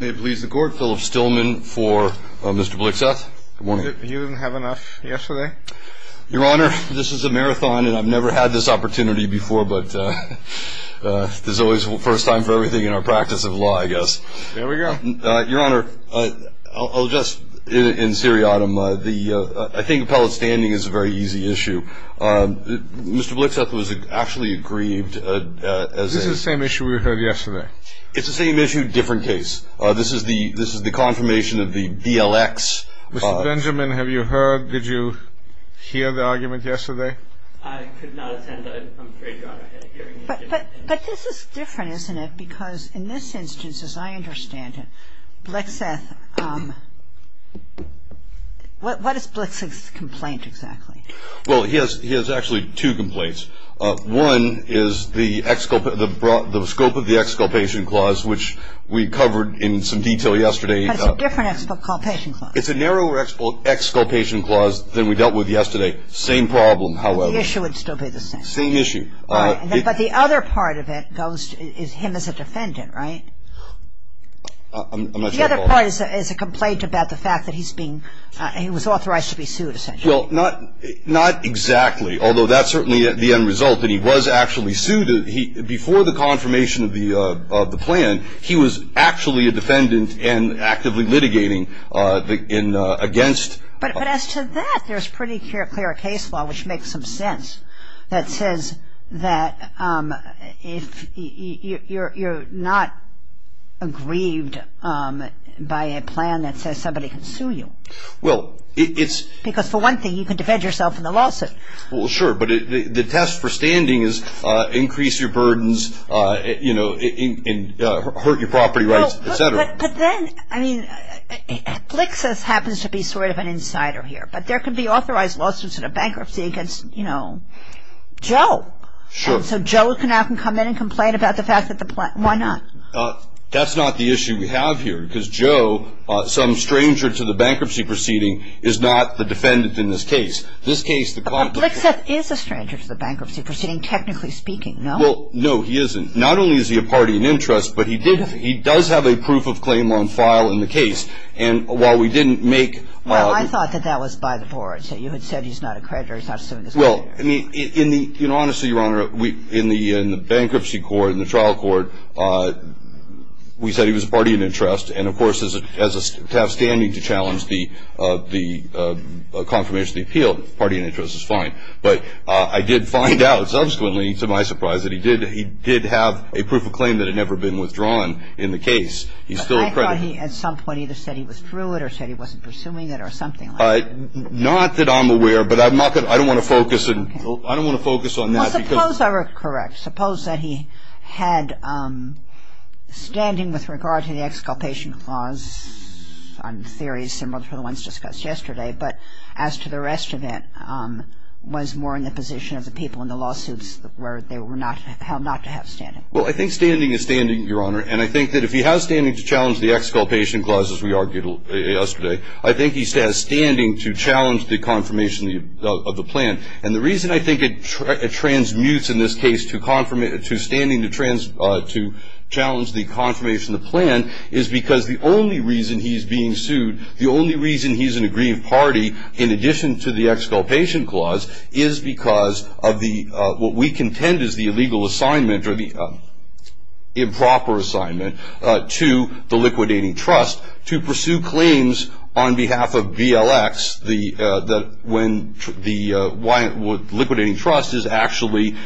May it please the Court, Philip Stillman for Mr. Blixseth. Good morning. You didn't have enough yesterday? Your Honor, this is a marathon, and I've never had this opportunity before, but this is always the first time for everything in our practice of law, I guess. There we go. Your Honor, I'll just, in seriatim, I think appellate standing is a very easy issue. Mr. Blixseth was actually aggrieved as a… It's the same issue, different case. This is the confirmation of the BLX. Mr. Benjamin, have you heard, did you hear the argument yesterday? I could not attend, I'm afraid, Your Honor. But this is different, isn't it? Because in this instance, as I understand it, Blixseth, what is Blixseth's complaint exactly? Well, he has actually two complaints. One is the scope of the Exculpation Clause, which we covered in some detail yesterday. But it's a different Exculpation Clause. It's a narrower Exculpation Clause than we dealt with yesterday. Same problem, however. The issue would still be the same. Same issue. But the other part of it goes to him as a defendant, right? I'm not sure. Well, not exactly, although that's certainly the end result, that he was actually sued. Before the confirmation of the plan, he was actually a defendant and actively litigating against… But as to that, there's pretty clear case law, which makes some sense, that says that you're not aggrieved by a plan that says somebody can sue you. Well, it's… Because for one thing, you can defend yourself in the lawsuit. Well, sure. But the test for standing is increase your burdens, you know, hurt your property rights, et cetera. But then, I mean, Blixseth happens to be sort of an insider here. But there could be authorized lawsuits in a bankruptcy against, you know, Joe. Sure. So Joe can now come in and complain about the fact that the plan… Why not? That's not the issue we have here. Because Joe, some stranger to the bankruptcy proceeding, is not the defendant in this case. This case, the… But Blixseth is a stranger to the bankruptcy proceeding, technically speaking, no? Well, no, he isn't. Not only is he a party in interest, but he does have a proof of claim on file in the case. And while we didn't make… Well, I thought that that was by the board. So you had said he's not a creditor. He's not suing this company. Well, I mean, honestly, Your Honor, in the bankruptcy court, in the trial court, we said he was a party in interest. And, of course, to have standing to challenge the confirmation of the appeal, party in interest is fine. But I did find out subsequently, to my surprise, that he did have a proof of claim that had never been withdrawn in the case. He's still a creditor. But I thought he, at some point, either said he was through it or said he wasn't pursuing it or something like that. Not that I'm aware, but I don't want to focus on that because… Well, suppose I were correct. Suppose that he had standing with regard to the exculpation clause on theories similar to the ones discussed yesterday, but as to the rest of it was more in the position of the people in the lawsuits where they were not held not to have standing. Well, I think standing is standing, Your Honor. And I think that if he has standing to challenge the exculpation clause, as we argued yesterday, I think he has standing to challenge the confirmation of the plan. And the reason I think it transmutes in this case to standing to challenge the confirmation of the plan is because the only reason he's being sued, the only reason he's an aggrieved party, in addition to the exculpation clause, is because of what we contend is the illegal assignment or the improper assignment to the liquidating trust to pursue claims on behalf of BLX when the liquidating trust is actually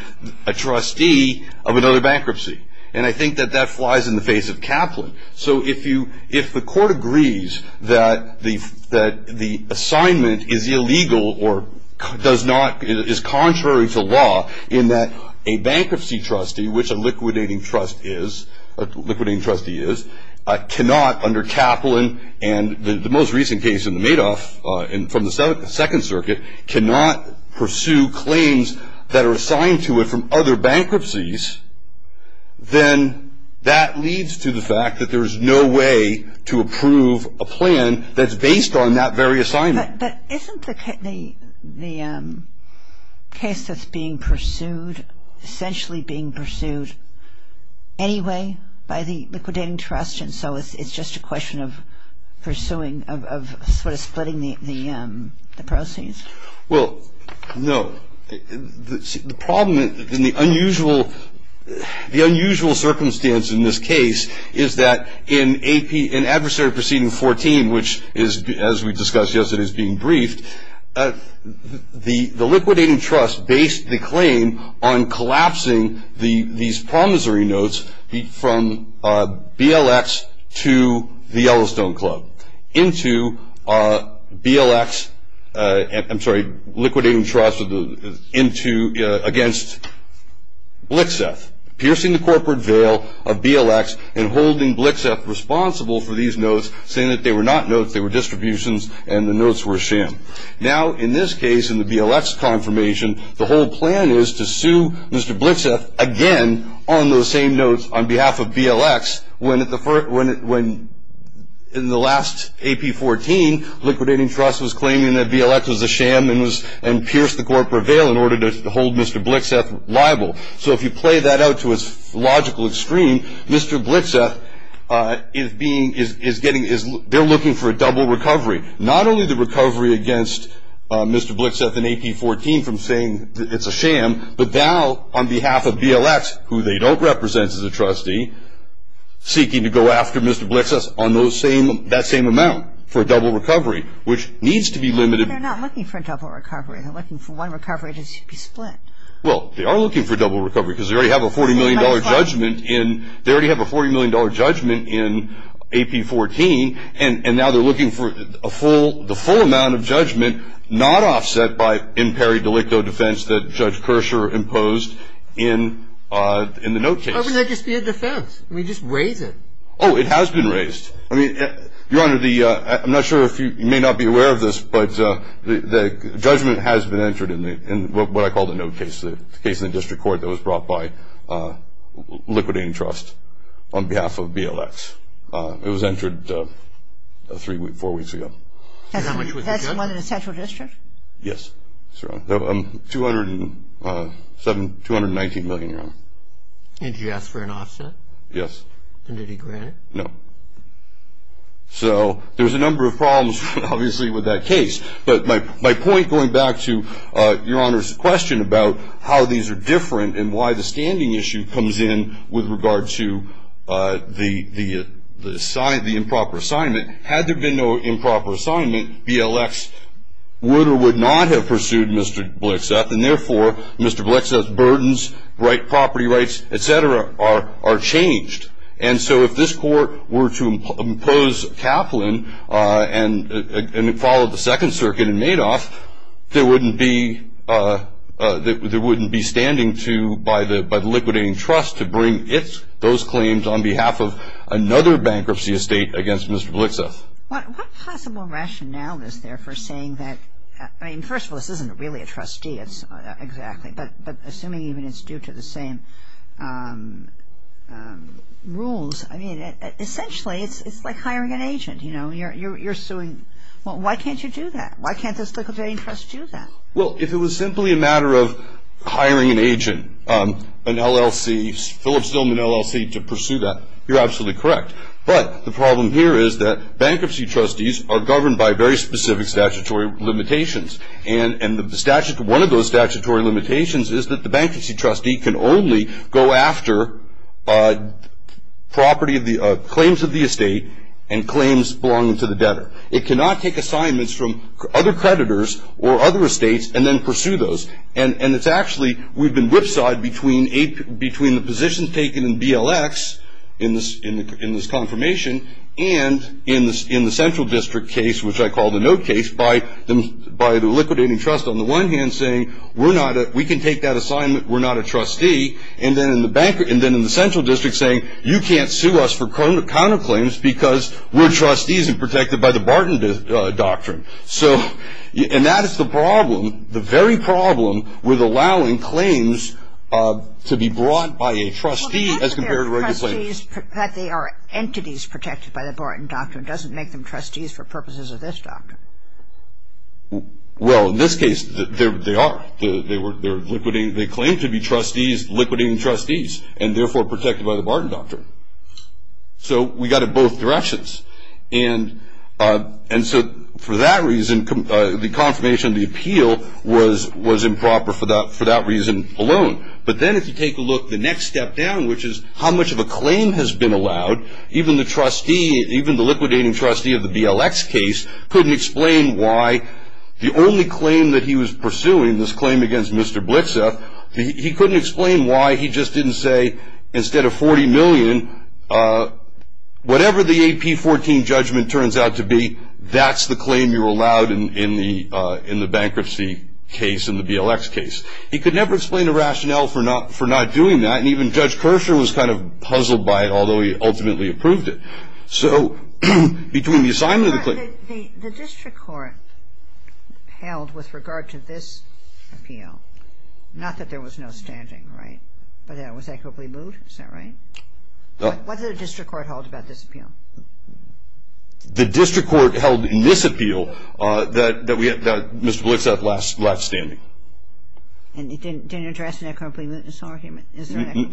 a trustee of another bankruptcy. And I think that that flies in the face of Kaplan. So if the court agrees that the assignment is illegal or is contrary to law in that a bankruptcy trustee, which a liquidating trustee is, cannot under Kaplan and the most recent case in the Madoff from the Second Circuit, cannot pursue claims that are assigned to it from other bankruptcies, then that leads to the fact that there is no way to approve a plan that's based on that very assignment. But isn't the case that's being pursued essentially being pursued anyway by the liquidating trust? And so it's just a question of pursuing, of sort of splitting the proceeds. Well, no. The problem in the unusual circumstance in this case is that in adversary proceeding 14, which is, as we discussed yesterday, is being briefed, the liquidating trust based the claim on collapsing these promissory notes from BLX to the Yellowstone Club into BLX, I'm sorry, liquidating trust against Blixeth, piercing the corporate veil of BLX and holding Blixeth responsible for these notes, saying that they were not notes, they were distributions and the notes were a sham. Now, in this case, in the BLX confirmation, the whole plan is to sue Mr. Blixeth again on those same notes on behalf of BLX when in the last AP 14, liquidating trust was claiming that BLX was a sham and pierced the corporate veil in order to hold Mr. Blixeth liable. So if you play that out to its logical extreme, Mr. Blixeth, they're looking for a double recovery. Not only the recovery against Mr. Blixeth in AP 14 from saying it's a sham, but now on behalf of BLX, who they don't represent as a trustee, seeking to go after Mr. Blixeth on that same amount for a double recovery, which needs to be limited. But they're not looking for a double recovery. They're looking for one recovery to be split. Well, they are looking for a double recovery because they already have a $40 million judgment in AP 14 and now they're looking for the full amount of judgment not offset by in peri delicto defense that Judge Kirscher imposed in the note case. Or would that just be a defense? I mean, just raise it. Oh, it has been raised. I mean, Your Honor, I'm not sure if you may not be aware of this, but the judgment has been entered in what I call the note case, the case in the district court that was brought by liquidating trust on behalf of BLX. It was entered three, four weeks ago. That's one in the central district? Yes, that's right. $219 million, Your Honor. And did you ask for an offset? Yes. And did he grant it? No. So there's a number of problems, obviously, with that case. But my point, going back to Your Honor's question about how these are different and why the standing issue comes in with regard to the improper assignment, had there been no improper assignment, BLX would or would not have pursued Mr. Blexeth, and therefore Mr. Blexeth's burdens, property rights, et cetera, are changed. And so if this court were to impose Kaplan and it followed the Second Circuit in Madoff, there wouldn't be standing to, by the liquidating trust, to bring those claims on behalf of another bankruptcy estate against Mr. Blexeth. What possible rationale is there for saying that? I mean, first of all, this isn't really a trustee, exactly, but assuming even it's due to the same rules, I mean, essentially it's like hiring an agent. You know, you're suing. Well, why can't you do that? Why can't this liquidating trust do that? Well, if it was simply a matter of hiring an agent, an LLC, Phillips-Dillman LLC, to pursue that, you're absolutely correct. But the problem here is that bankruptcy trustees are governed by very specific statutory limitations. And one of those statutory limitations is that the bankruptcy trustee can only go after claims of the estate and claims belonging to the debtor. It cannot take assignments from other creditors or other estates and then pursue those. And it's actually, we've been whipsawed between the positions taken in BLX, in this confirmation, and in the central district case, which I call the note case, by the liquidating trust on the one hand saying, we can take that assignment, we're not a trustee, and then in the central district saying, you can't sue us for counterclaims because we're trustees and protected by the Barton Doctrine. And that is the problem, the very problem, with allowing claims to be brought by a trustee as compared to regular claims. Well, the fact that they are entities protected by the Barton Doctrine doesn't make them trustees for purposes of this doctrine. Well, in this case, they are. They claim to be trustees, liquidating trustees, and therefore protected by the Barton Doctrine. So we got it both directions. And so for that reason, the confirmation of the appeal was improper for that reason alone. But then if you take a look the next step down, which is how much of a claim has been allowed, even the trustee, even the liquidating trustee of the BLX case, couldn't explain why the only claim that he was pursuing, this claim against Mr. Blitzeff, he couldn't explain why he just didn't say, instead of $40 million, whatever the AP14 judgment turns out to be, that's the claim you're allowed in the bankruptcy case, in the BLX case. He could never explain the rationale for not doing that, and even Judge Kirschner was kind of puzzled by it, although he ultimately approved it. So between the assignment of the claim... Your Honor, the district court held with regard to this appeal, not that there was no standing, right, but that it was equitably moot, is that right? What did the district court hold about this appeal? The district court held in this appeal that Mr. Blitzeff left standing. And it didn't address an equitably mootness argument?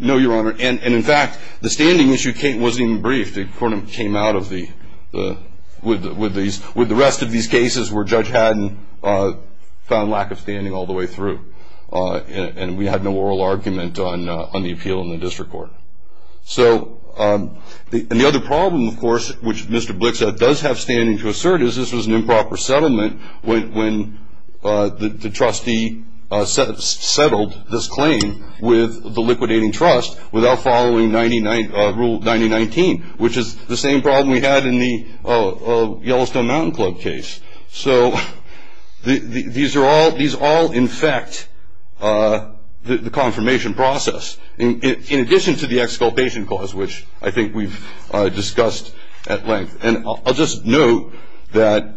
No, Your Honor. And in fact, the standing issue wasn't even briefed. The court came out with the rest of these cases where Judge Haddon found lack of standing all the way through, and we had no oral argument on the appeal in the district court. So the other problem, of course, which Mr. Blitzeff does have standing to assert, is this was an improper settlement when the trustee settled this claim with the liquidating trust without following Rule 9019, which is the same problem we had in the Yellowstone Mountain Club case. So these all infect the confirmation process, in addition to the exculpation clause, which I think we've discussed at length. And I'll just note that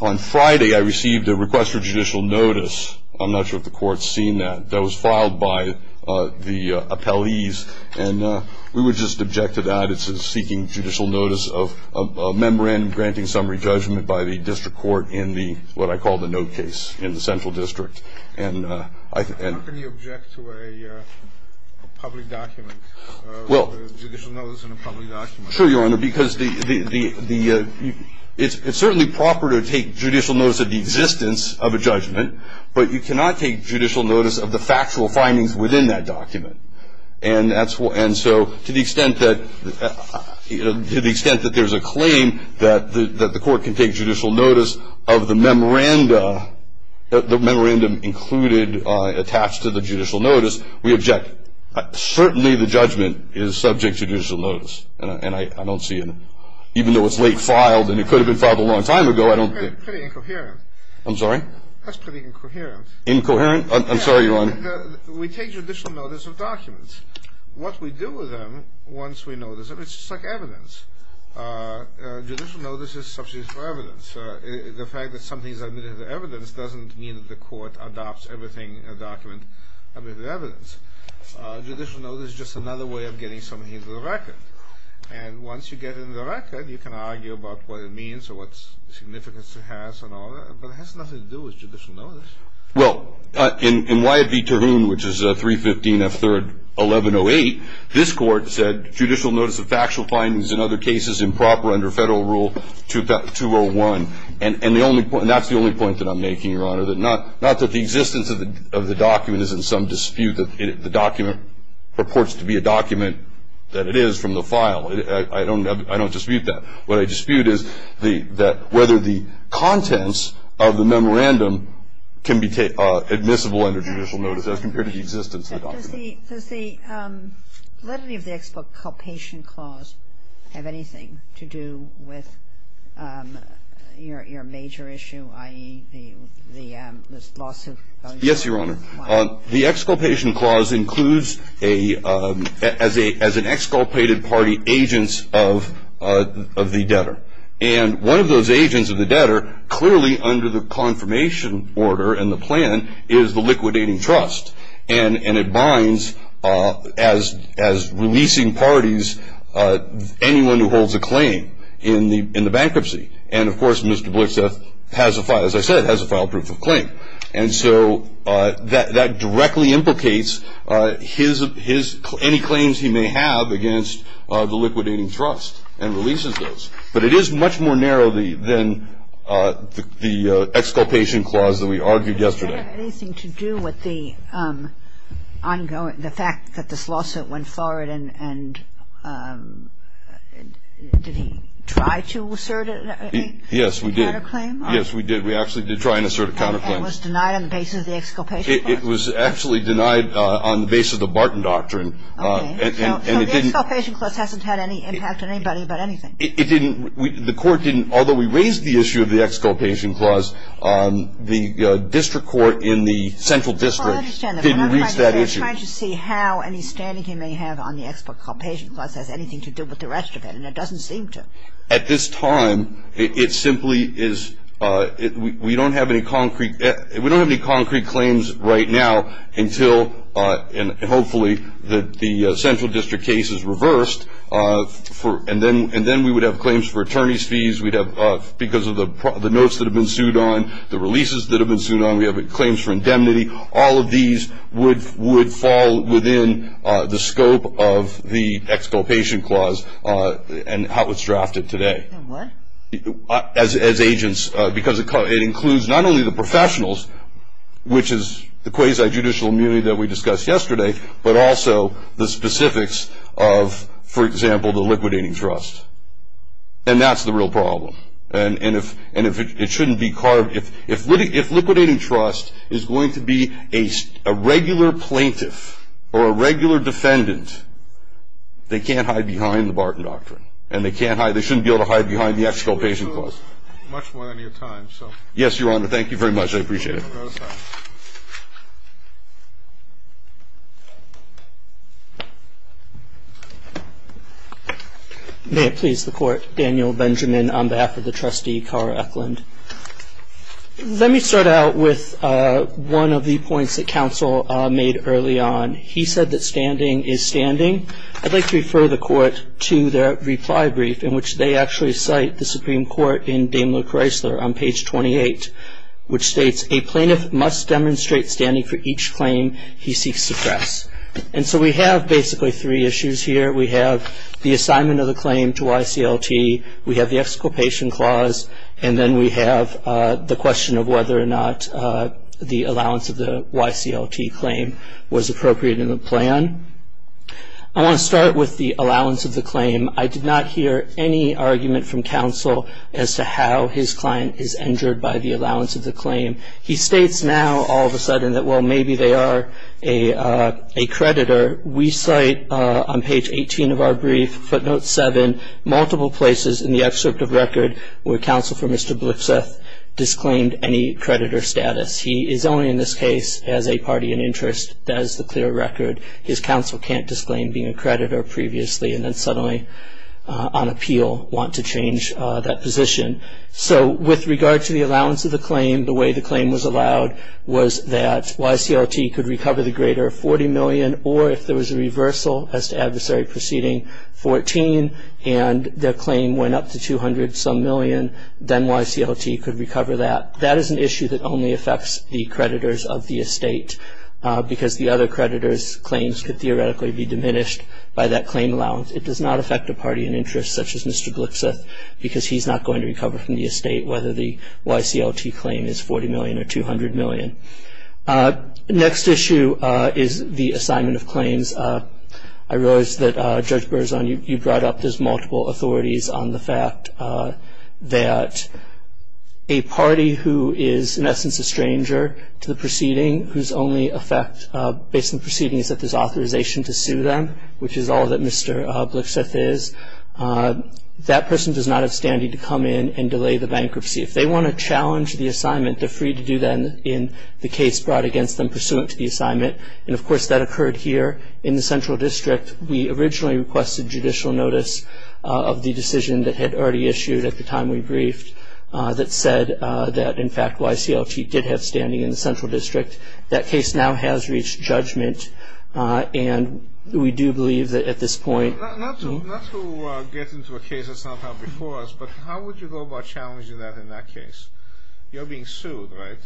on Friday I received a request for judicial notice. I'm not sure if the Court's seen that. That was filed by the appellees, and we would just object to that. It's a seeking judicial notice of memorandum granting summary judgment by the district court in the, what I call the note case in the central district. How can you object to a public document, a judicial notice in a public document? Sure, Your Honor, because it's certainly proper to take judicial notice of the existence of a judgment, but you cannot take judicial notice of the factual findings within that document. And so to the extent that there's a claim that the Court can take judicial notice of the memorandum included, attached to the judicial notice, we object. Certainly the judgment is subject to judicial notice, and I don't see it. Even though it's late filed, and it could have been filed a long time ago, I don't think. Pretty incoherent. I'm sorry? That's pretty incoherent. Incoherent? I'm sorry, Your Honor. We take judicial notice of documents. What we do with them, once we notice them, it's just like evidence. Judicial notice is subsidies for evidence. The fact that something is admitted as evidence doesn't mean that the Court adopts everything, a document, admitted as evidence. Judicial notice is just another way of getting something into the record. And once you get it into the record, you can argue about what it means or what significance it has and all that. But it has nothing to do with judicial notice. Well, in Wyatt v. Tavoon, which is 315 F. 3rd 1108, this Court said judicial notice of factual findings in other cases improper under Federal Rule 201. And that's the only point that I'm making, Your Honor, that not that the existence of the document is in some dispute. The document purports to be a document that it is from the file. I don't dispute that. What I dispute is that whether the contents of the memorandum can be admissible under judicial notice as compared to the existence of the document. But does the levity of the exculpation clause have anything to do with your major issue, i.e., the lawsuit? Yes, Your Honor. Why? The exculpation clause includes as an exculpated party agents of the debtor. And one of those agents of the debtor clearly under the confirmation order and the plan is the liquidating trust. And it binds as releasing parties anyone who holds a claim in the bankruptcy. And, of course, Mr. Blitzeff, as I said, has a file proof of claim. And so that directly implicates his any claims he may have against the liquidating trust and releases those. But it is much more narrow than the exculpation clause that we argued yesterday. Does that have anything to do with the fact that this lawsuit went forward and did he try to assert a counterclaim? Yes, we did. Yes, we did. We did try to assert a counterclaim. And was denied on the basis of the exculpation clause? It was actually denied on the basis of the Barton Doctrine. Okay. So the exculpation clause hasn't had any impact on anybody about anything? It didn't. The Court didn't. Although we raised the issue of the exculpation clause, the district court in the central district didn't reach that issue. Well, I understand that. But I'm trying to see how any standing he may have on the exculpation clause has anything to do with the rest of it. And it doesn't seem to. At this time, it simply is we don't have any concrete claims right now until, and hopefully the central district case is reversed, and then we would have claims for attorney's fees. We'd have, because of the notes that have been sued on, the releases that have been sued on, we have claims for indemnity. All of these would fall within the scope of the exculpation clause and how it's drafted today. What? As agents, because it includes not only the professionals, which is the quasi-judicial immunity that we discussed yesterday, but also the specifics of, for example, the liquidating trust. And that's the real problem. And it shouldn't be carved. If liquidating trust is going to be a regular plaintiff or a regular defendant, they can't hide behind the Barton Doctrine, and they shouldn't be able to hide behind the exculpation clause. Much more than your time, so. Yes, Your Honor, thank you very much. I appreciate it. Thank you. May it please the Court. Daniel Benjamin on behalf of the trustee, Carl Eklund. Let me start out with one of the points that counsel made early on. He said that standing is standing. I'd like to refer the Court to their reply brief, in which they actually cite the Supreme Court in Daimler Chrysler on page 28, which states, a plaintiff must demonstrate standing for each claim he seeks to press. And so we have basically three issues here. We have the assignment of the claim to YCLT. We have the exculpation clause. And then we have the question of whether or not the allowance of the YCLT claim was appropriate in the plan. I want to start with the allowance of the claim. I did not hear any argument from counsel as to how his client is injured by the allowance of the claim. He states now all of a sudden that, well, maybe they are a creditor. We cite on page 18 of our brief, footnote 7, multiple places in the excerpt of record where counsel for Mr. Blixeth disclaimed any creditor status. He is only in this case as a party in interest. That is the clear record. His counsel can't disclaim being a creditor previously and then suddenly on appeal want to change that position. So with regard to the allowance of the claim, the way the claim was allowed was that YCLT could recover the greater 40 million or if there was a reversal as to adversary proceeding 14 and the claim went up to 200-some million, then YCLT could recover that. That is an issue that only affects the creditors of the estate because the other creditors' claims could theoretically be diminished by that claim allowance. It does not affect a party in interest such as Mr. Blixeth because he's not going to recover from the estate whether the YCLT claim is 40 million or 200 million. Next issue is the assignment of claims. I realize that, Judge Berzon, you brought up there's multiple authorities on the fact that a party who is, in essence, a stranger to the proceeding whose only effect based on the proceedings is that there's authorization to sue them, which is all that Mr. Blixeth is, that person does not have standing to come in and delay the bankruptcy. If they want to challenge the assignment, they're free to do that in the case brought against them pursuant to the assignment, and, of course, that occurred here in the Central District. We originally requested judicial notice of the decision that had already issued at the time we briefed that said that, in fact, YCLT did have standing in the Central District. That case now has reached judgment, and we do believe that at this point. Not to get into a case that's not before us, but how would you go about challenging that in that case? You're being sued, right?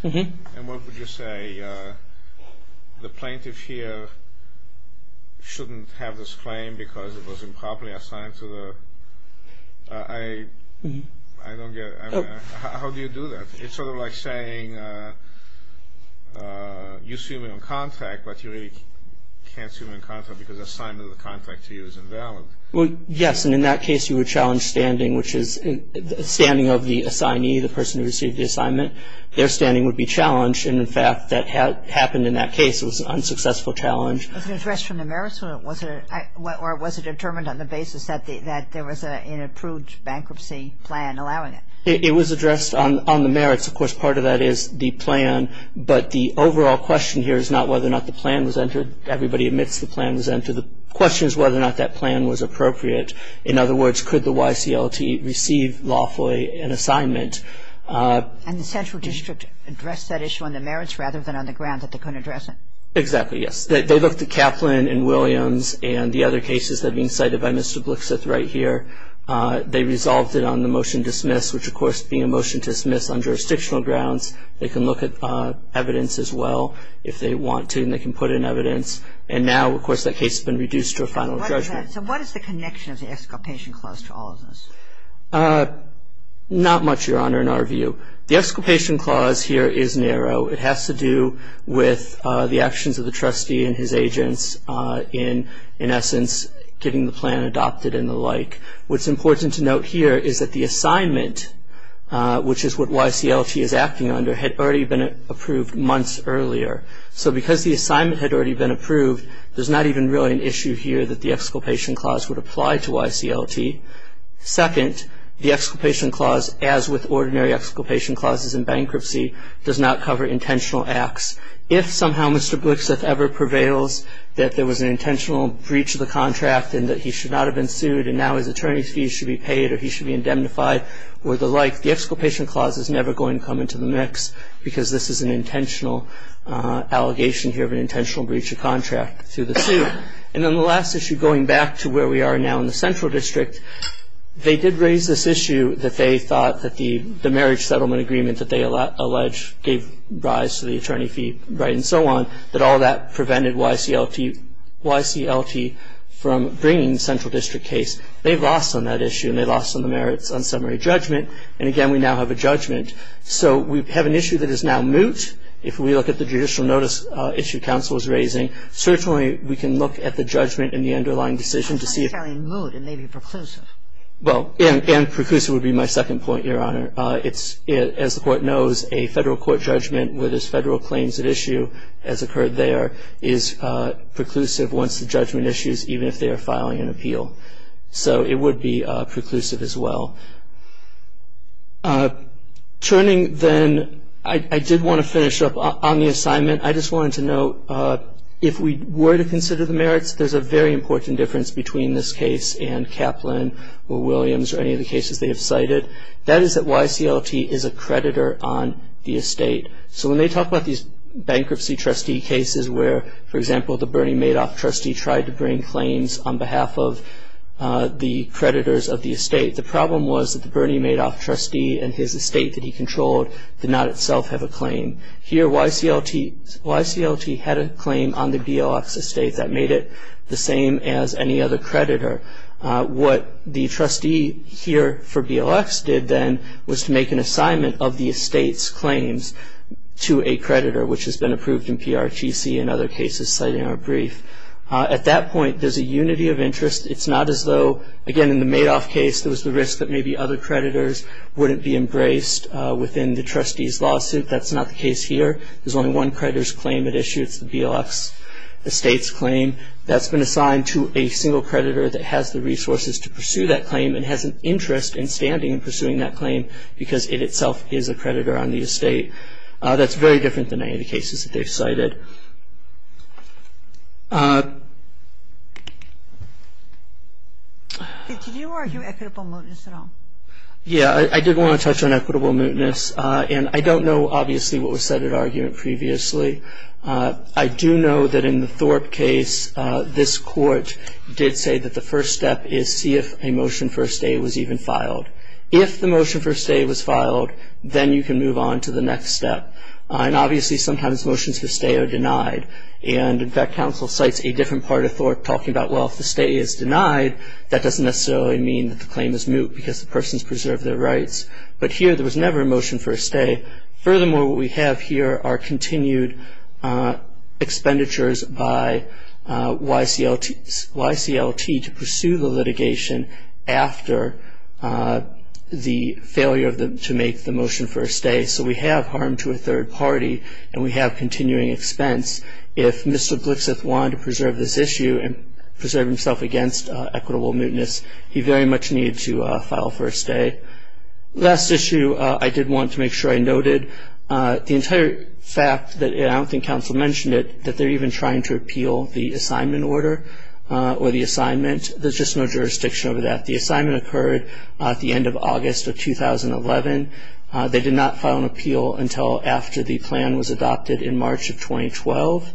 And what would you say? I don't get it. How do you do that? It's sort of like saying you sue me on contract, but you really can't sue me on contract because assignment of the contract to you is invalid. Well, yes, and in that case you would challenge standing, which is standing of the assignee, the person who received the assignment. Their standing would be challenged, and, in fact, that happened in that case. It was an unsuccessful challenge. Was it addressed from the merits, or was it determined on the basis that there was an approved bankruptcy plan allowing it? It was addressed on the merits. Of course, part of that is the plan, but the overall question here is not whether or not the plan was entered. Everybody admits the plan was entered. The question is whether or not that plan was appropriate. In other words, could the YCLT receive lawfully an assignment? And the Central District addressed that issue on the merits rather than on the ground that they couldn't address it? Exactly, yes. They looked at Kaplan and Williams and the other cases that have been cited by Mr. Blixith right here. They resolved it on the motion to dismiss, which of course being a motion to dismiss on jurisdictional grounds, they can look at evidence as well if they want to, and they can put in evidence. And now, of course, that case has been reduced to a final judgment. So what is the connection of the Exculpation Clause to all of this? Not much, Your Honor, in our view. The Exculpation Clause here is narrow. It has to do with the actions of the trustee and his agents in essence getting the plan adopted and the like. What's important to note here is that the assignment, which is what YCLT is acting under, had already been approved months earlier. So because the assignment had already been approved, there's not even really an issue here that the Exculpation Clause would apply to YCLT. Second, the Exculpation Clause, as with ordinary Exculpation Clauses in bankruptcy, does not cover intentional acts. If somehow Mr. Blixeth ever prevails that there was an intentional breach of the contract and that he should not have been sued and now his attorney's fees should be paid or he should be indemnified or the like, the Exculpation Clause is never going to come into the mix because this is an intentional allegation here of an intentional breach of contract to the suit. And then the last issue, going back to where we are now in the Central District, they did raise this issue that they thought that the marriage settlement agreement that they allege gave rise to the attorney fee right and so on, that all that prevented YCLT from bringing the Central District case. They've lost on that issue and they've lost on the merits on summary judgment. And, again, we now have a judgment. So we have an issue that is now moot. If we look at the judicial notice issue counsel is raising, certainly we can look at the judgment and the underlying decision to see if ---- It's not entirely moot. It may be preclusive. Well, and preclusive would be my second point, Your Honor. As the Court knows, a federal court judgment where there's federal claims at issue, as occurred there, is preclusive once the judgment issues, even if they are filing an appeal. So it would be preclusive as well. Turning then, I did want to finish up on the assignment. I just wanted to note, if we were to consider the merits, there's a very important difference between this case and Kaplan or Williams or any of the cases they have cited. That is that YCLT is a creditor on the estate. So when they talk about these bankruptcy trustee cases where, for example, the Bernie Madoff trustee tried to bring claims on behalf of the creditors of the estate, the problem was that the Bernie Madoff trustee and his estate that he controlled did not itself have a claim. Here YCLT had a claim on the BLX estate that made it the same as any other creditor. What the trustee here for BLX did then was to make an assignment of the estate's claims to a creditor, which has been approved in PRTC and other cases cited in our brief. At that point, there's a unity of interest. It's not as though, again, in the Madoff case, there was the risk that maybe other creditors wouldn't be embraced within the trustee's lawsuit. That's not the case here. There's only one creditor's claim at issue. It's the BLX estate's claim. That's been assigned to a single creditor that has the resources to pursue that claim and has an interest in standing in pursuing that claim because it itself is a creditor on the estate. That's very different than any of the cases that they've cited. Did you argue equitable mootness at all? Yeah, I did want to touch on equitable mootness, and I don't know, obviously, what was said at argument previously. I do know that in the Thorpe case, this court did say that the first step is see if a motion for a stay was even filed. If the motion for a stay was filed, then you can move on to the next step. And, obviously, sometimes motions for a stay are denied. And, in fact, counsel cites a different part of Thorpe talking about, well, if the stay is denied, that doesn't necessarily mean that the claim is moot because the person's preserved their rights. But here, there was never a motion for a stay. Furthermore, what we have here are continued expenditures by YCLT to pursue the litigation after the failure to make the motion for a stay. So we have harm to a third party, and we have continuing expense. If Mr. Blixeth wanted to preserve this issue and preserve himself against equitable mootness, he very much needed to file for a stay. Last issue I did want to make sure I noted, the entire fact that I don't think counsel mentioned it, that they're even trying to appeal the assignment order or the assignment. There's just no jurisdiction over that. The assignment occurred at the end of August of 2011. They did not file an appeal until after the plan was adopted in March of 2012.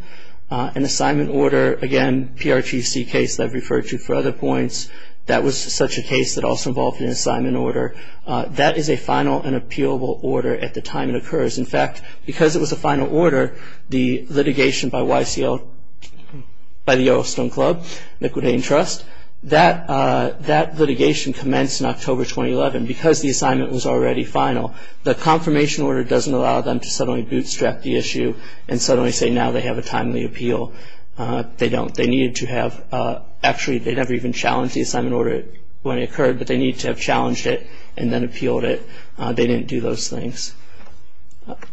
An assignment order, again, PRTC case that I've referred to for other points, that was such a case that also involved an assignment order, that is a final and appealable order at the time it occurs. In fact, because it was a final order, the litigation by YCLT, by the Yellowstone Club, Liquidating Trust, that litigation commenced in October 2011. Because the assignment was already final, the confirmation order doesn't allow them to suddenly bootstrap the issue and suddenly say now they have a timely appeal. They don't. Actually, they never even challenged the assignment order when it occurred, but they needed to have challenged it and then appealed it. They didn't do those things.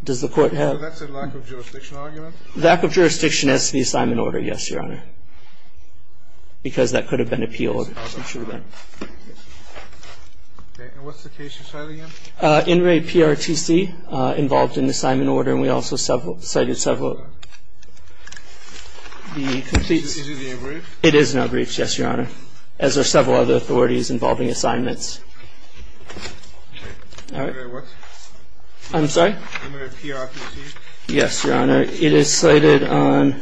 Does the Court have... That's a lack of jurisdiction argument? Lack of jurisdiction as to the assignment order, yes, Your Honor, because that could have been appealed. And what's the case you cited again? In re PRTC, involved in the assignment order, and we also cited several... Is it in your brief? It is in our brief, yes, Your Honor, as are several other authorities involving assignments. I'm sorry? In PRTC? Yes, Your Honor. It is cited on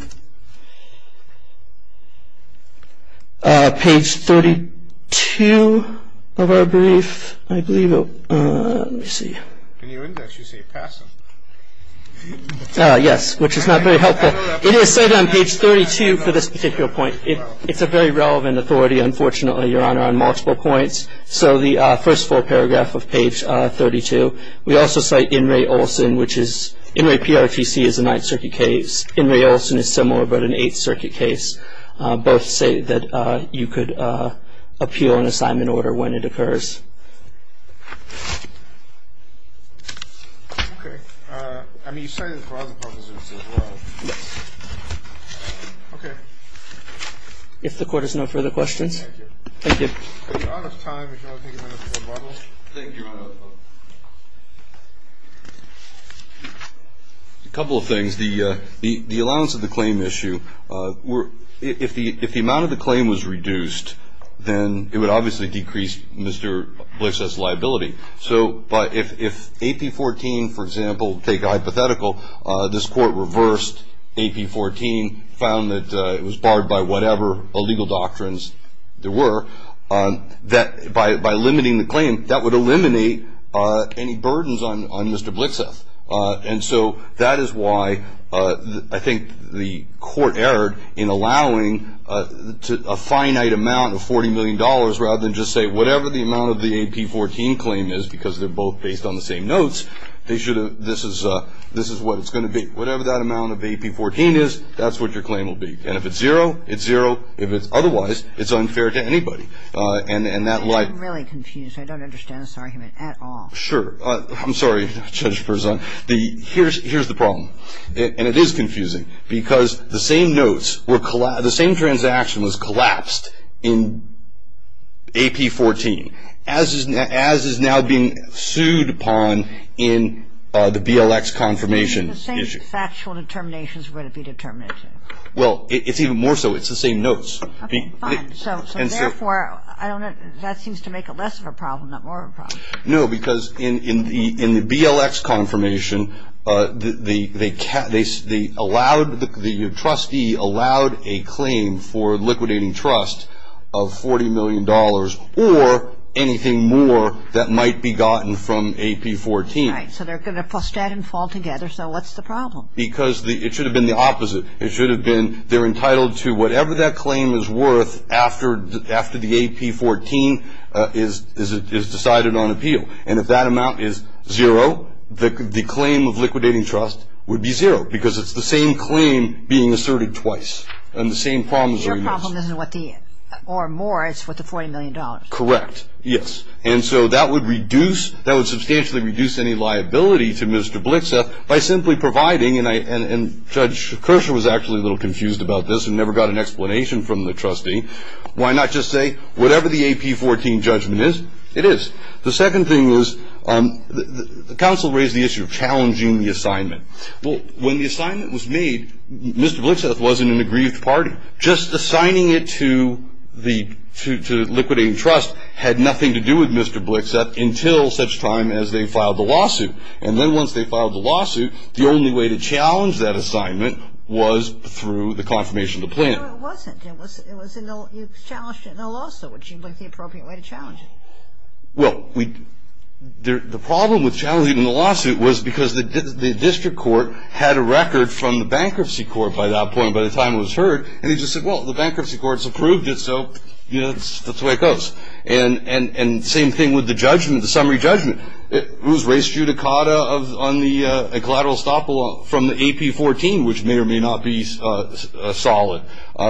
page 32 of our brief, I believe. Let me see. In your index, you say passive. Yes, which is not very helpful. It is cited on page 32 for this particular point. It's a very relevant authority, unfortunately, Your Honor, on multiple points. So the first full paragraph of page 32. We also cite in re Olson, which is... In re PRTC is a Ninth Circuit case. In re Olson is similar, but an Eighth Circuit case. Both say that you could appeal an assignment order when it occurs. Okay. I mean, you cited it for other purposes as well. Yes. Okay. If the Court has no further questions. Thank you. Thank you. Would you like to take a minute for rebuttal? Thank you, Your Honor. A couple of things. The allowance of the claim issue, if the amount of the claim was reduced, then it would obviously decrease Mr. Blix's liability. So if AP 14, for example, take a hypothetical, this Court reversed AP 14, found that it was barred by whatever illegal doctrines there were, by limiting the claim, that would eliminate any burdens on Mr. Blixeth. And so that is why I think the Court erred in allowing a finite amount of $40 million, rather than just say, whatever the amount of the AP 14 claim is, because they're both based on the same notes, this is what it's going to be. Whatever that amount of AP 14 is, that's what your claim will be. And if it's zero, it's zero. If it's otherwise, it's unfair to anybody. And that like… I'm really confused. I don't understand this argument at all. Sure. I'm sorry, Judge Berzon. Here's the problem, and it is confusing, because the same transaction was collapsed in AP 14, as is now being sued upon in the BLX confirmation issue. The same factual determinations were to be determined. Well, it's even more so. It's the same notes. Okay, fine. So therefore, that seems to make it less of a problem, not more of a problem. No, because in the BLX confirmation, the trustee allowed a claim for liquidating trust of $40 million, or anything more that might be gotten from AP 14. Right. So they're going to stand and fall together. So what's the problem? Because it should have been the opposite. It should have been they're entitled to whatever that claim is worth after the AP 14 is decided on appeal. And if that amount is zero, the claim of liquidating trust would be zero, because it's the same claim being asserted twice. And the same problems are… Your problem isn't what the… or more. It's what the $40 million. Correct. Yes. And so that would substantially reduce any liability to Mr. Blitzeff by simply providing, and Judge Kershaw was actually a little confused about this and never got an explanation from the trustee. Why not just say whatever the AP 14 judgment is, it is. The second thing was the counsel raised the issue of challenging the assignment. Well, when the assignment was made, Mr. Blitzeff wasn't in a grieved party. Just assigning it to liquidating trust had nothing to do with Mr. Blitzeff until such time as they filed the lawsuit. And then once they filed the lawsuit, the only way to challenge that assignment was through the confirmation of the plan. No, it wasn't. It was challenged in the lawsuit, which seemed like the appropriate way to challenge it. Well, the problem with challenging the lawsuit was because the district court had a record from the bankruptcy court by that point, by the time it was heard, and they just said, well, the bankruptcy court has approved it, so that's the way it goes. And same thing with the judgment, the summary judgment. It was race judicata on the collateral estoppel from the AP 14, which may or may not be solid.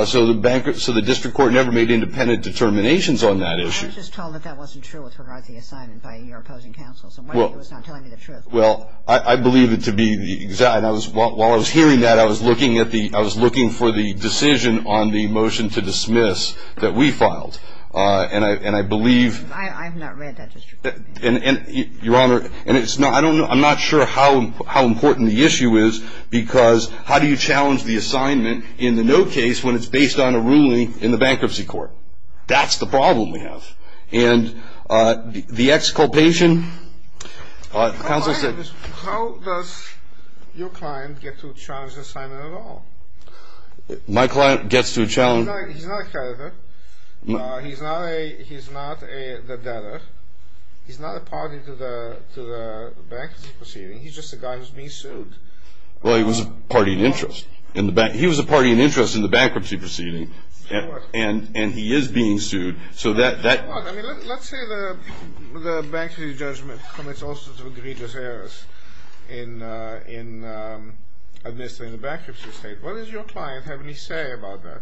So the district court never made independent determinations on that issue. I was just told that that wasn't true with regard to the assignment by your opposing counsel. So why were you not telling me the truth? Well, I believe it to be the exact. While I was hearing that, I was looking for the decision on the motion to dismiss that we filed. And I believe – I have not read that district court. And, Your Honor, I'm not sure how important the issue is because how do you challenge the assignment in the no case when it's based on a ruling in the bankruptcy court? That's the problem we have. And the exculpation, counsel said – How does your client get to challenge the assignment at all? My client gets to challenge – He's not a creditor. He's not the debtor. He's not a party to the bankruptcy proceeding. He's just a guy who's being sued. Well, he was a party in interest. He was a party in interest in the bankruptcy proceeding. And he is being sued. So that – Let's say the bankruptcy judgment commits all sorts of egregious errors in administering the bankruptcy state. What does your client have any say about that?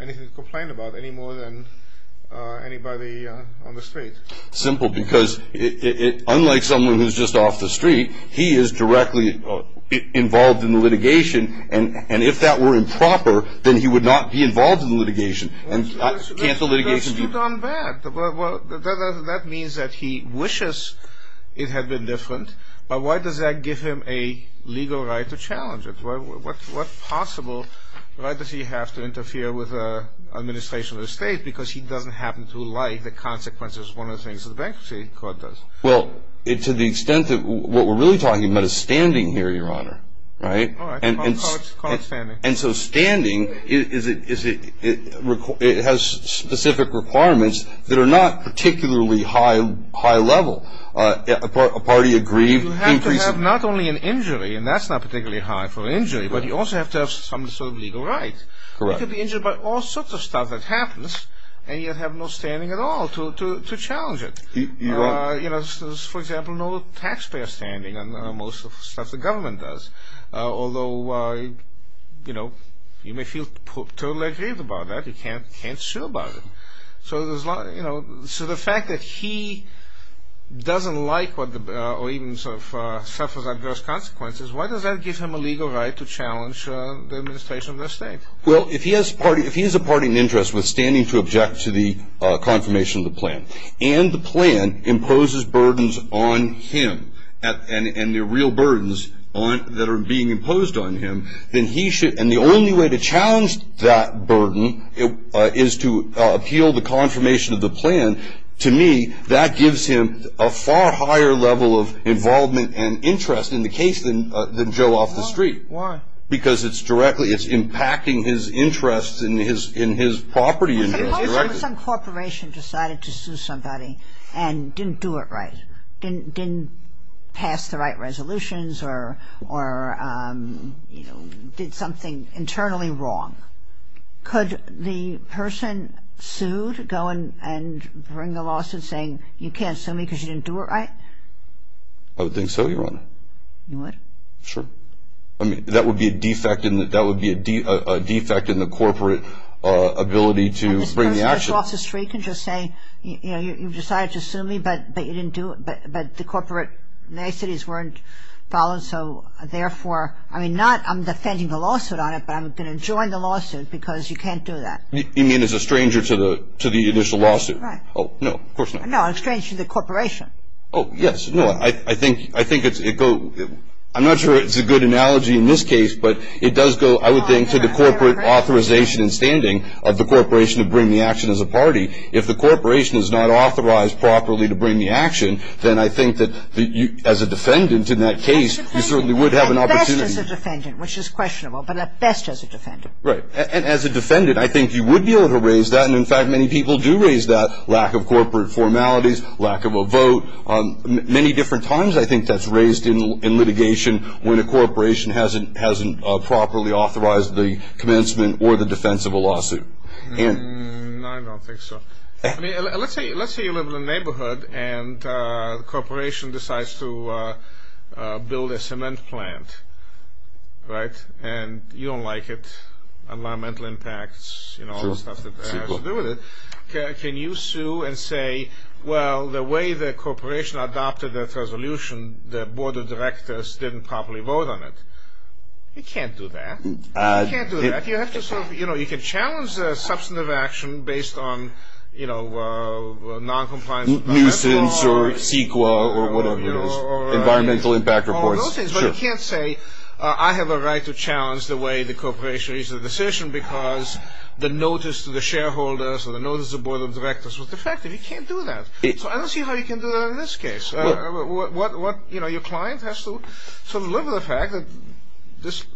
Anything to complain about any more than anybody on the street? Simple. Because unlike someone who's just off the street, he is directly involved in the litigation. And if that were improper, then he would not be involved in the litigation. And can't the litigation be – That's too darn bad. That means that he wishes it had been different. But why does that give him a legal right to challenge it? What's possible? Why does he have to interfere with the administration of the state? Because he doesn't happen to like the consequences, one of the things the bankruptcy court does. Well, to the extent that – What we're really talking about is standing here, Your Honor. All right. Call it standing. And so standing has specific requirements that are not particularly high level. A party agreed – You have to have not only an injury, and that's not particularly high for an injury, but you also have to have some sort of legal right. Correct. You could be injured by all sorts of stuff that happens, and you have no standing at all to challenge it. You're right. For example, no taxpayer standing on most of the stuff the government does, although you may feel totally aggrieved about that. You can't sue about it. So the fact that he doesn't like or even suffers adverse consequences, why does that give him a legal right to challenge the administration of the state? Well, if he is a party in interest withstanding to object to the confirmation of the plan, and the plan imposes burdens on him, and they're real burdens that are being imposed on him, and the only way to challenge that burden is to appeal the confirmation of the plan, to me that gives him a far higher level of involvement and interest in the case than Joe off the street. Why? Because it's directly – it's impacting his interests in his property. Well, suppose some corporation decided to sue somebody and didn't do it right, didn't pass the right resolutions or, you know, did something internally wrong. Could the person sued go and bring the lawsuit saying, you can't sue me because you didn't do it right? I would think so, Your Honor. You would? Sure. I mean, that would be a defect in the corporate ability to bring the action. I mean, Joe off the street can just say, you know, you've decided to sue me, but you didn't do it, but the corporate niceties weren't followed, so therefore – I mean, not I'm defending the lawsuit on it, but I'm going to join the lawsuit because you can't do that. You mean as a stranger to the initial lawsuit? Right. Oh, no, of course not. No, a stranger to the corporation. Oh, yes. No, I think it's – I'm not sure it's a good analogy in this case, but it does go, I would think, to the corporate authorization and standing of the corporation to bring the action as a party. If the corporation is not authorized properly to bring the action, then I think that as a defendant in that case, you certainly would have an opportunity – At best as a defendant, which is questionable, but at best as a defendant. Right. And as a defendant, I think you would be able to raise that, and in fact, many people do raise that, lack of corporate formalities, lack of a vote. Many different times I think that's raised in litigation when a corporation hasn't properly authorized the commencement or the defense of a lawsuit. No, I don't think so. Let's say you live in a neighborhood and the corporation decides to build a cement plant, right, and you don't like it, environmental impacts, you know, all the stuff that has to do with it. Can you sue and say, well, the way the corporation adopted that resolution, the board of directors didn't properly vote on it? You can't do that. You can't do that. You have to sort of, you know, you can challenge substantive action based on, you know, noncompliance. Nuisance or CEQA or whatever it is, environmental impact reports. All those things, but you can't say, I have a right to challenge the way the corporation made the decision because the notice to the shareholders or the notice to the board of directors was defective. You can't do that. So I don't see how you can do that in this case. You know, your client has to sort of live with the fact that this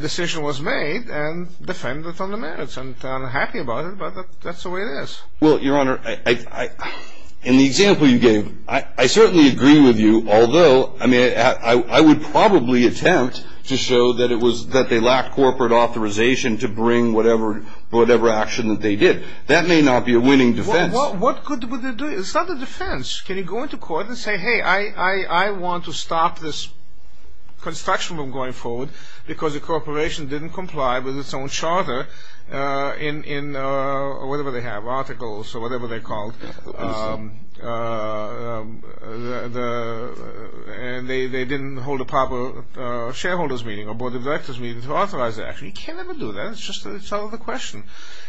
decision was made and defend the fundamentals, and I'm happy about it, but that's the way it is. Well, Your Honor, in the example you gave, I certainly agree with you, although I would probably attempt to show that it was that they lacked corporate authorization to bring whatever action that they did. That may not be a winning defense. Well, what good would it do? It's not a defense. Can you go into court and say, hey, I want to stop this construction going forward because the corporation didn't comply with its own charter in whatever they have, articles or whatever they're called, and they didn't hold a proper shareholders meeting or board of directors meeting to authorize that. You can't ever do that. It's just a question.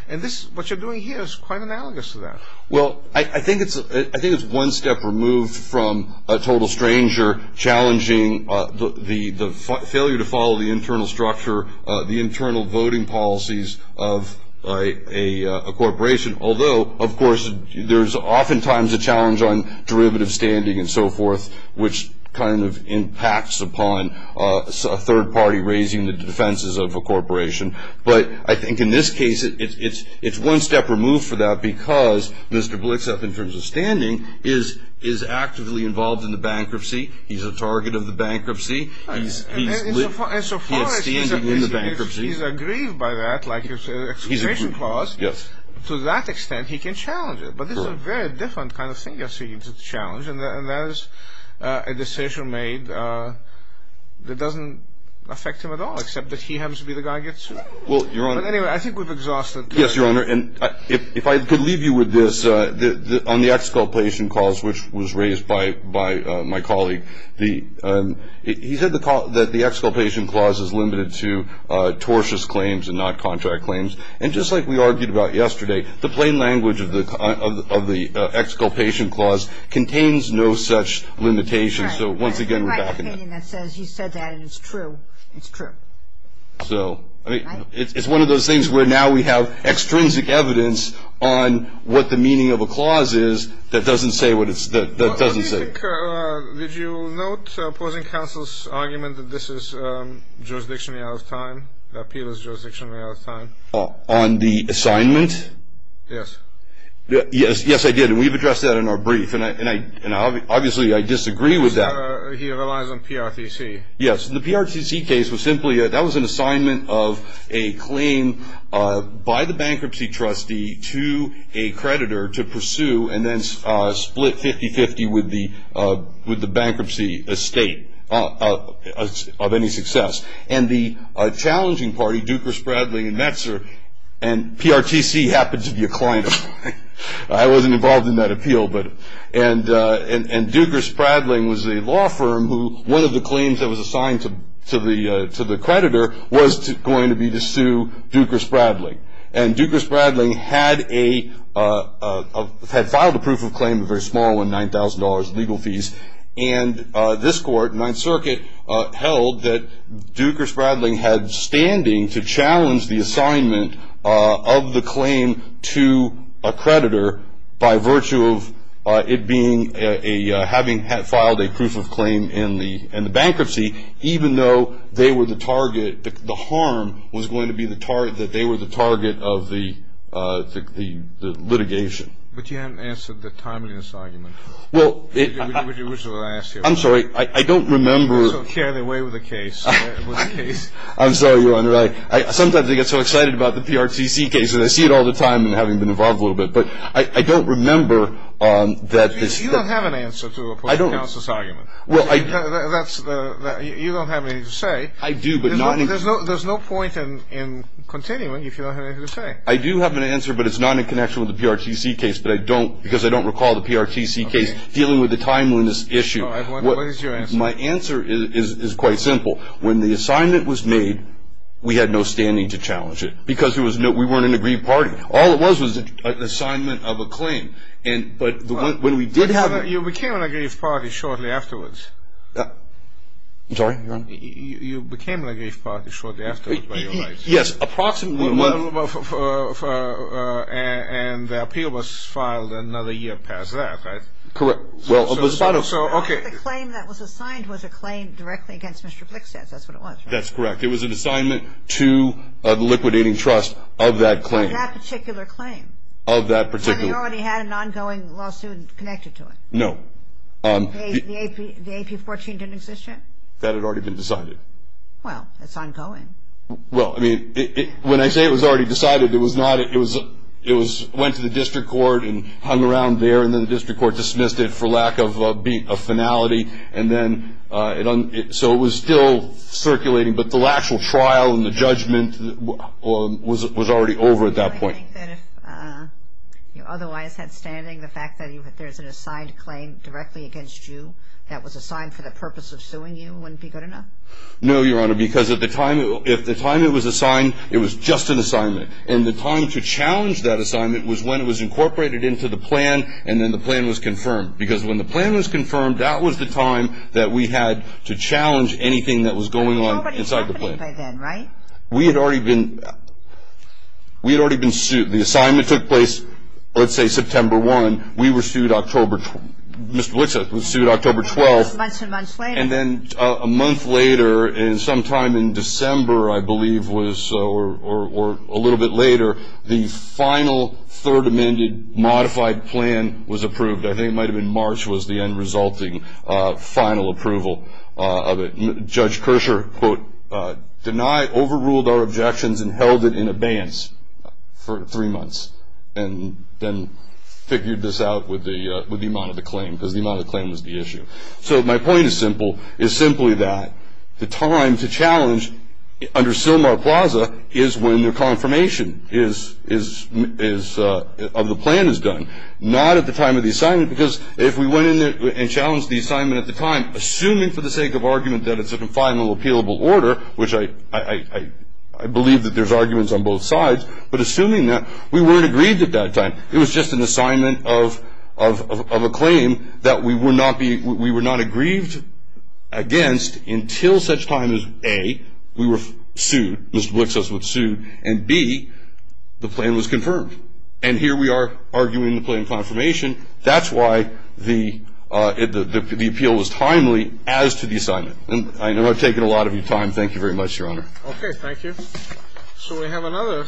And what you're doing here is quite analogous to that. Well, I think it's one step removed from a total stranger challenging the failure to follow the internal structure, the internal voting policies of a corporation, although, of course, there's oftentimes a challenge on derivative standing and so forth, which kind of impacts upon a third party raising the defenses of a corporation. But I think in this case, it's one step removed for that because Mr. Blitzeff, in terms of standing, is actively involved in the bankruptcy. He's a target of the bankruptcy. He is standing in the bankruptcy. And so far, if he's agreed by that, like an exclamation clause, to that extent, he can challenge it. But this is a very different kind of thing you're seeking to challenge, and that is a decision made that doesn't affect him at all, except that he happens to be the guy who gets sued. Well, Your Honor. But anyway, I think we've exhausted. Yes, Your Honor. And if I could leave you with this, on the exculpation clause, which was raised by my colleague, he said that the exculpation clause is limited to tortious claims and not contract claims. And just like we argued about yesterday, the plain language of the exculpation clause contains no such limitation. So once again, we're back on that. That's right. He said that, and it's true. It's true. So, I mean, it's one of those things where now we have extrinsic evidence on what the meaning of a clause is that doesn't say what it's – that doesn't say. Did you note opposing counsel's argument that this is jurisdictionally out of time, that appeal is jurisdictionally out of time? On the assignment? Yes. Yes, I did. And we've addressed that in our brief. And obviously, I disagree with that. He relies on PRTC. Yes. The PRTC case was simply – that was an assignment of a claim by the bankruptcy trustee to a creditor to pursue and then split 50-50 with the bankruptcy estate of any success. And the challenging party, Dukers, Bradley, and Metzer – and PRTC happened to be a client of mine. I wasn't involved in that appeal. And Dukers, Bradley was a law firm who, one of the claims that was assigned to the creditor, And Dukers, Bradley had a – had filed a proof of claim, a very small one, $9,000 legal fees. And this court, Ninth Circuit, held that Dukers, Bradley had standing to challenge the assignment of the claim to a creditor by virtue of it being a – having filed a proof of claim in the bankruptcy, even though they were the target – the harm was going to be the target – that they were the target of the litigation. But you haven't answered the timeliness argument. Well, it – Which is what I asked you about. I'm sorry. I don't remember – You're so carried away with the case. I'm sorry, Your Honor. Sometimes I get so excited about the PRTC case, and I see it all the time, and having been involved a little bit. But I don't remember that this – You don't have an answer to a public counsel's argument. I don't. Well, I – That's – you don't have anything to say. I do, but not in – There's no point in continuing if you don't have anything to say. I do have an answer, but it's not in connection with the PRTC case. But I don't – because I don't recall the PRTC case dealing with the timeliness issue. All right. What is your answer? My answer is quite simple. When the assignment was made, we had no standing to challenge it because there was no – we weren't in an agreed party. All it was was an assignment of a claim. And – but when we did have – You became an agreed party shortly afterwards. I'm sorry, Your Honor? You became an agreed party shortly afterwards by your right. Yes, approximately. And the appeal was filed another year past that, right? Correct. Well, it was about a – So, okay. The claim that was assigned was a claim directly against Mr. Flickstats. That's what it was, right? That's correct. It was an assignment to a liquidating trust of that claim. Of that particular claim? Of that particular – And they already had an ongoing lawsuit connected to it? No. The AP-14 didn't exist yet? That had already been decided. Well, that's ongoing. Well, I mean, when I say it was already decided, it was not – it was – it was – went to the district court and hung around there, and then the district court dismissed it for lack of a finale, and then – so it was still circulating. But the actual trial and the judgment was already over at that point. Well, I think that if you otherwise had standing, the fact that there's an assigned claim directly against you that was assigned for the purpose of suing you wouldn't be good enough? No, Your Honor, because at the time – if the time it was assigned, it was just an assignment. And the time to challenge that assignment was when it was incorporated into the plan, and then the plan was confirmed, because when the plan was confirmed, that was the time that we had to challenge anything that was going on inside the plan. It was already happening by then, right? We had already been – we had already been sued. The assignment took place, let's say, September 1. We were sued October – Mr. Lipset was sued October 12. Months and months later. And then a month later, and sometime in December, I believe, was – or a little bit later, the final third amended modified plan was approved. I think it might have been March was the end resulting final approval of it. The judge, quote, denied – overruled our objections and held it in abeyance for three months and then figured this out with the amount of the claim, because the amount of the claim was the issue. So my point is simple. It's simply that the time to challenge under Sylmar Plaza is when the confirmation is – of the plan is done, not at the time of the assignment, because if we went in there and challenged the assignment at the time, assuming for the sake of argument that it's a final appealable order, which I believe that there's arguments on both sides, but assuming that, we weren't aggrieved at that time. It was just an assignment of a claim that we would not be – we were not aggrieved against until such time as, A, we were sued – Mr. Lipset was sued, and, B, the plan was confirmed. And here we are arguing the plan confirmation. That's why the appeal was timely as to the assignment. And I know I've taken a lot of your time. Thank you very much, Your Honor. Okay. Thank you. So we have another.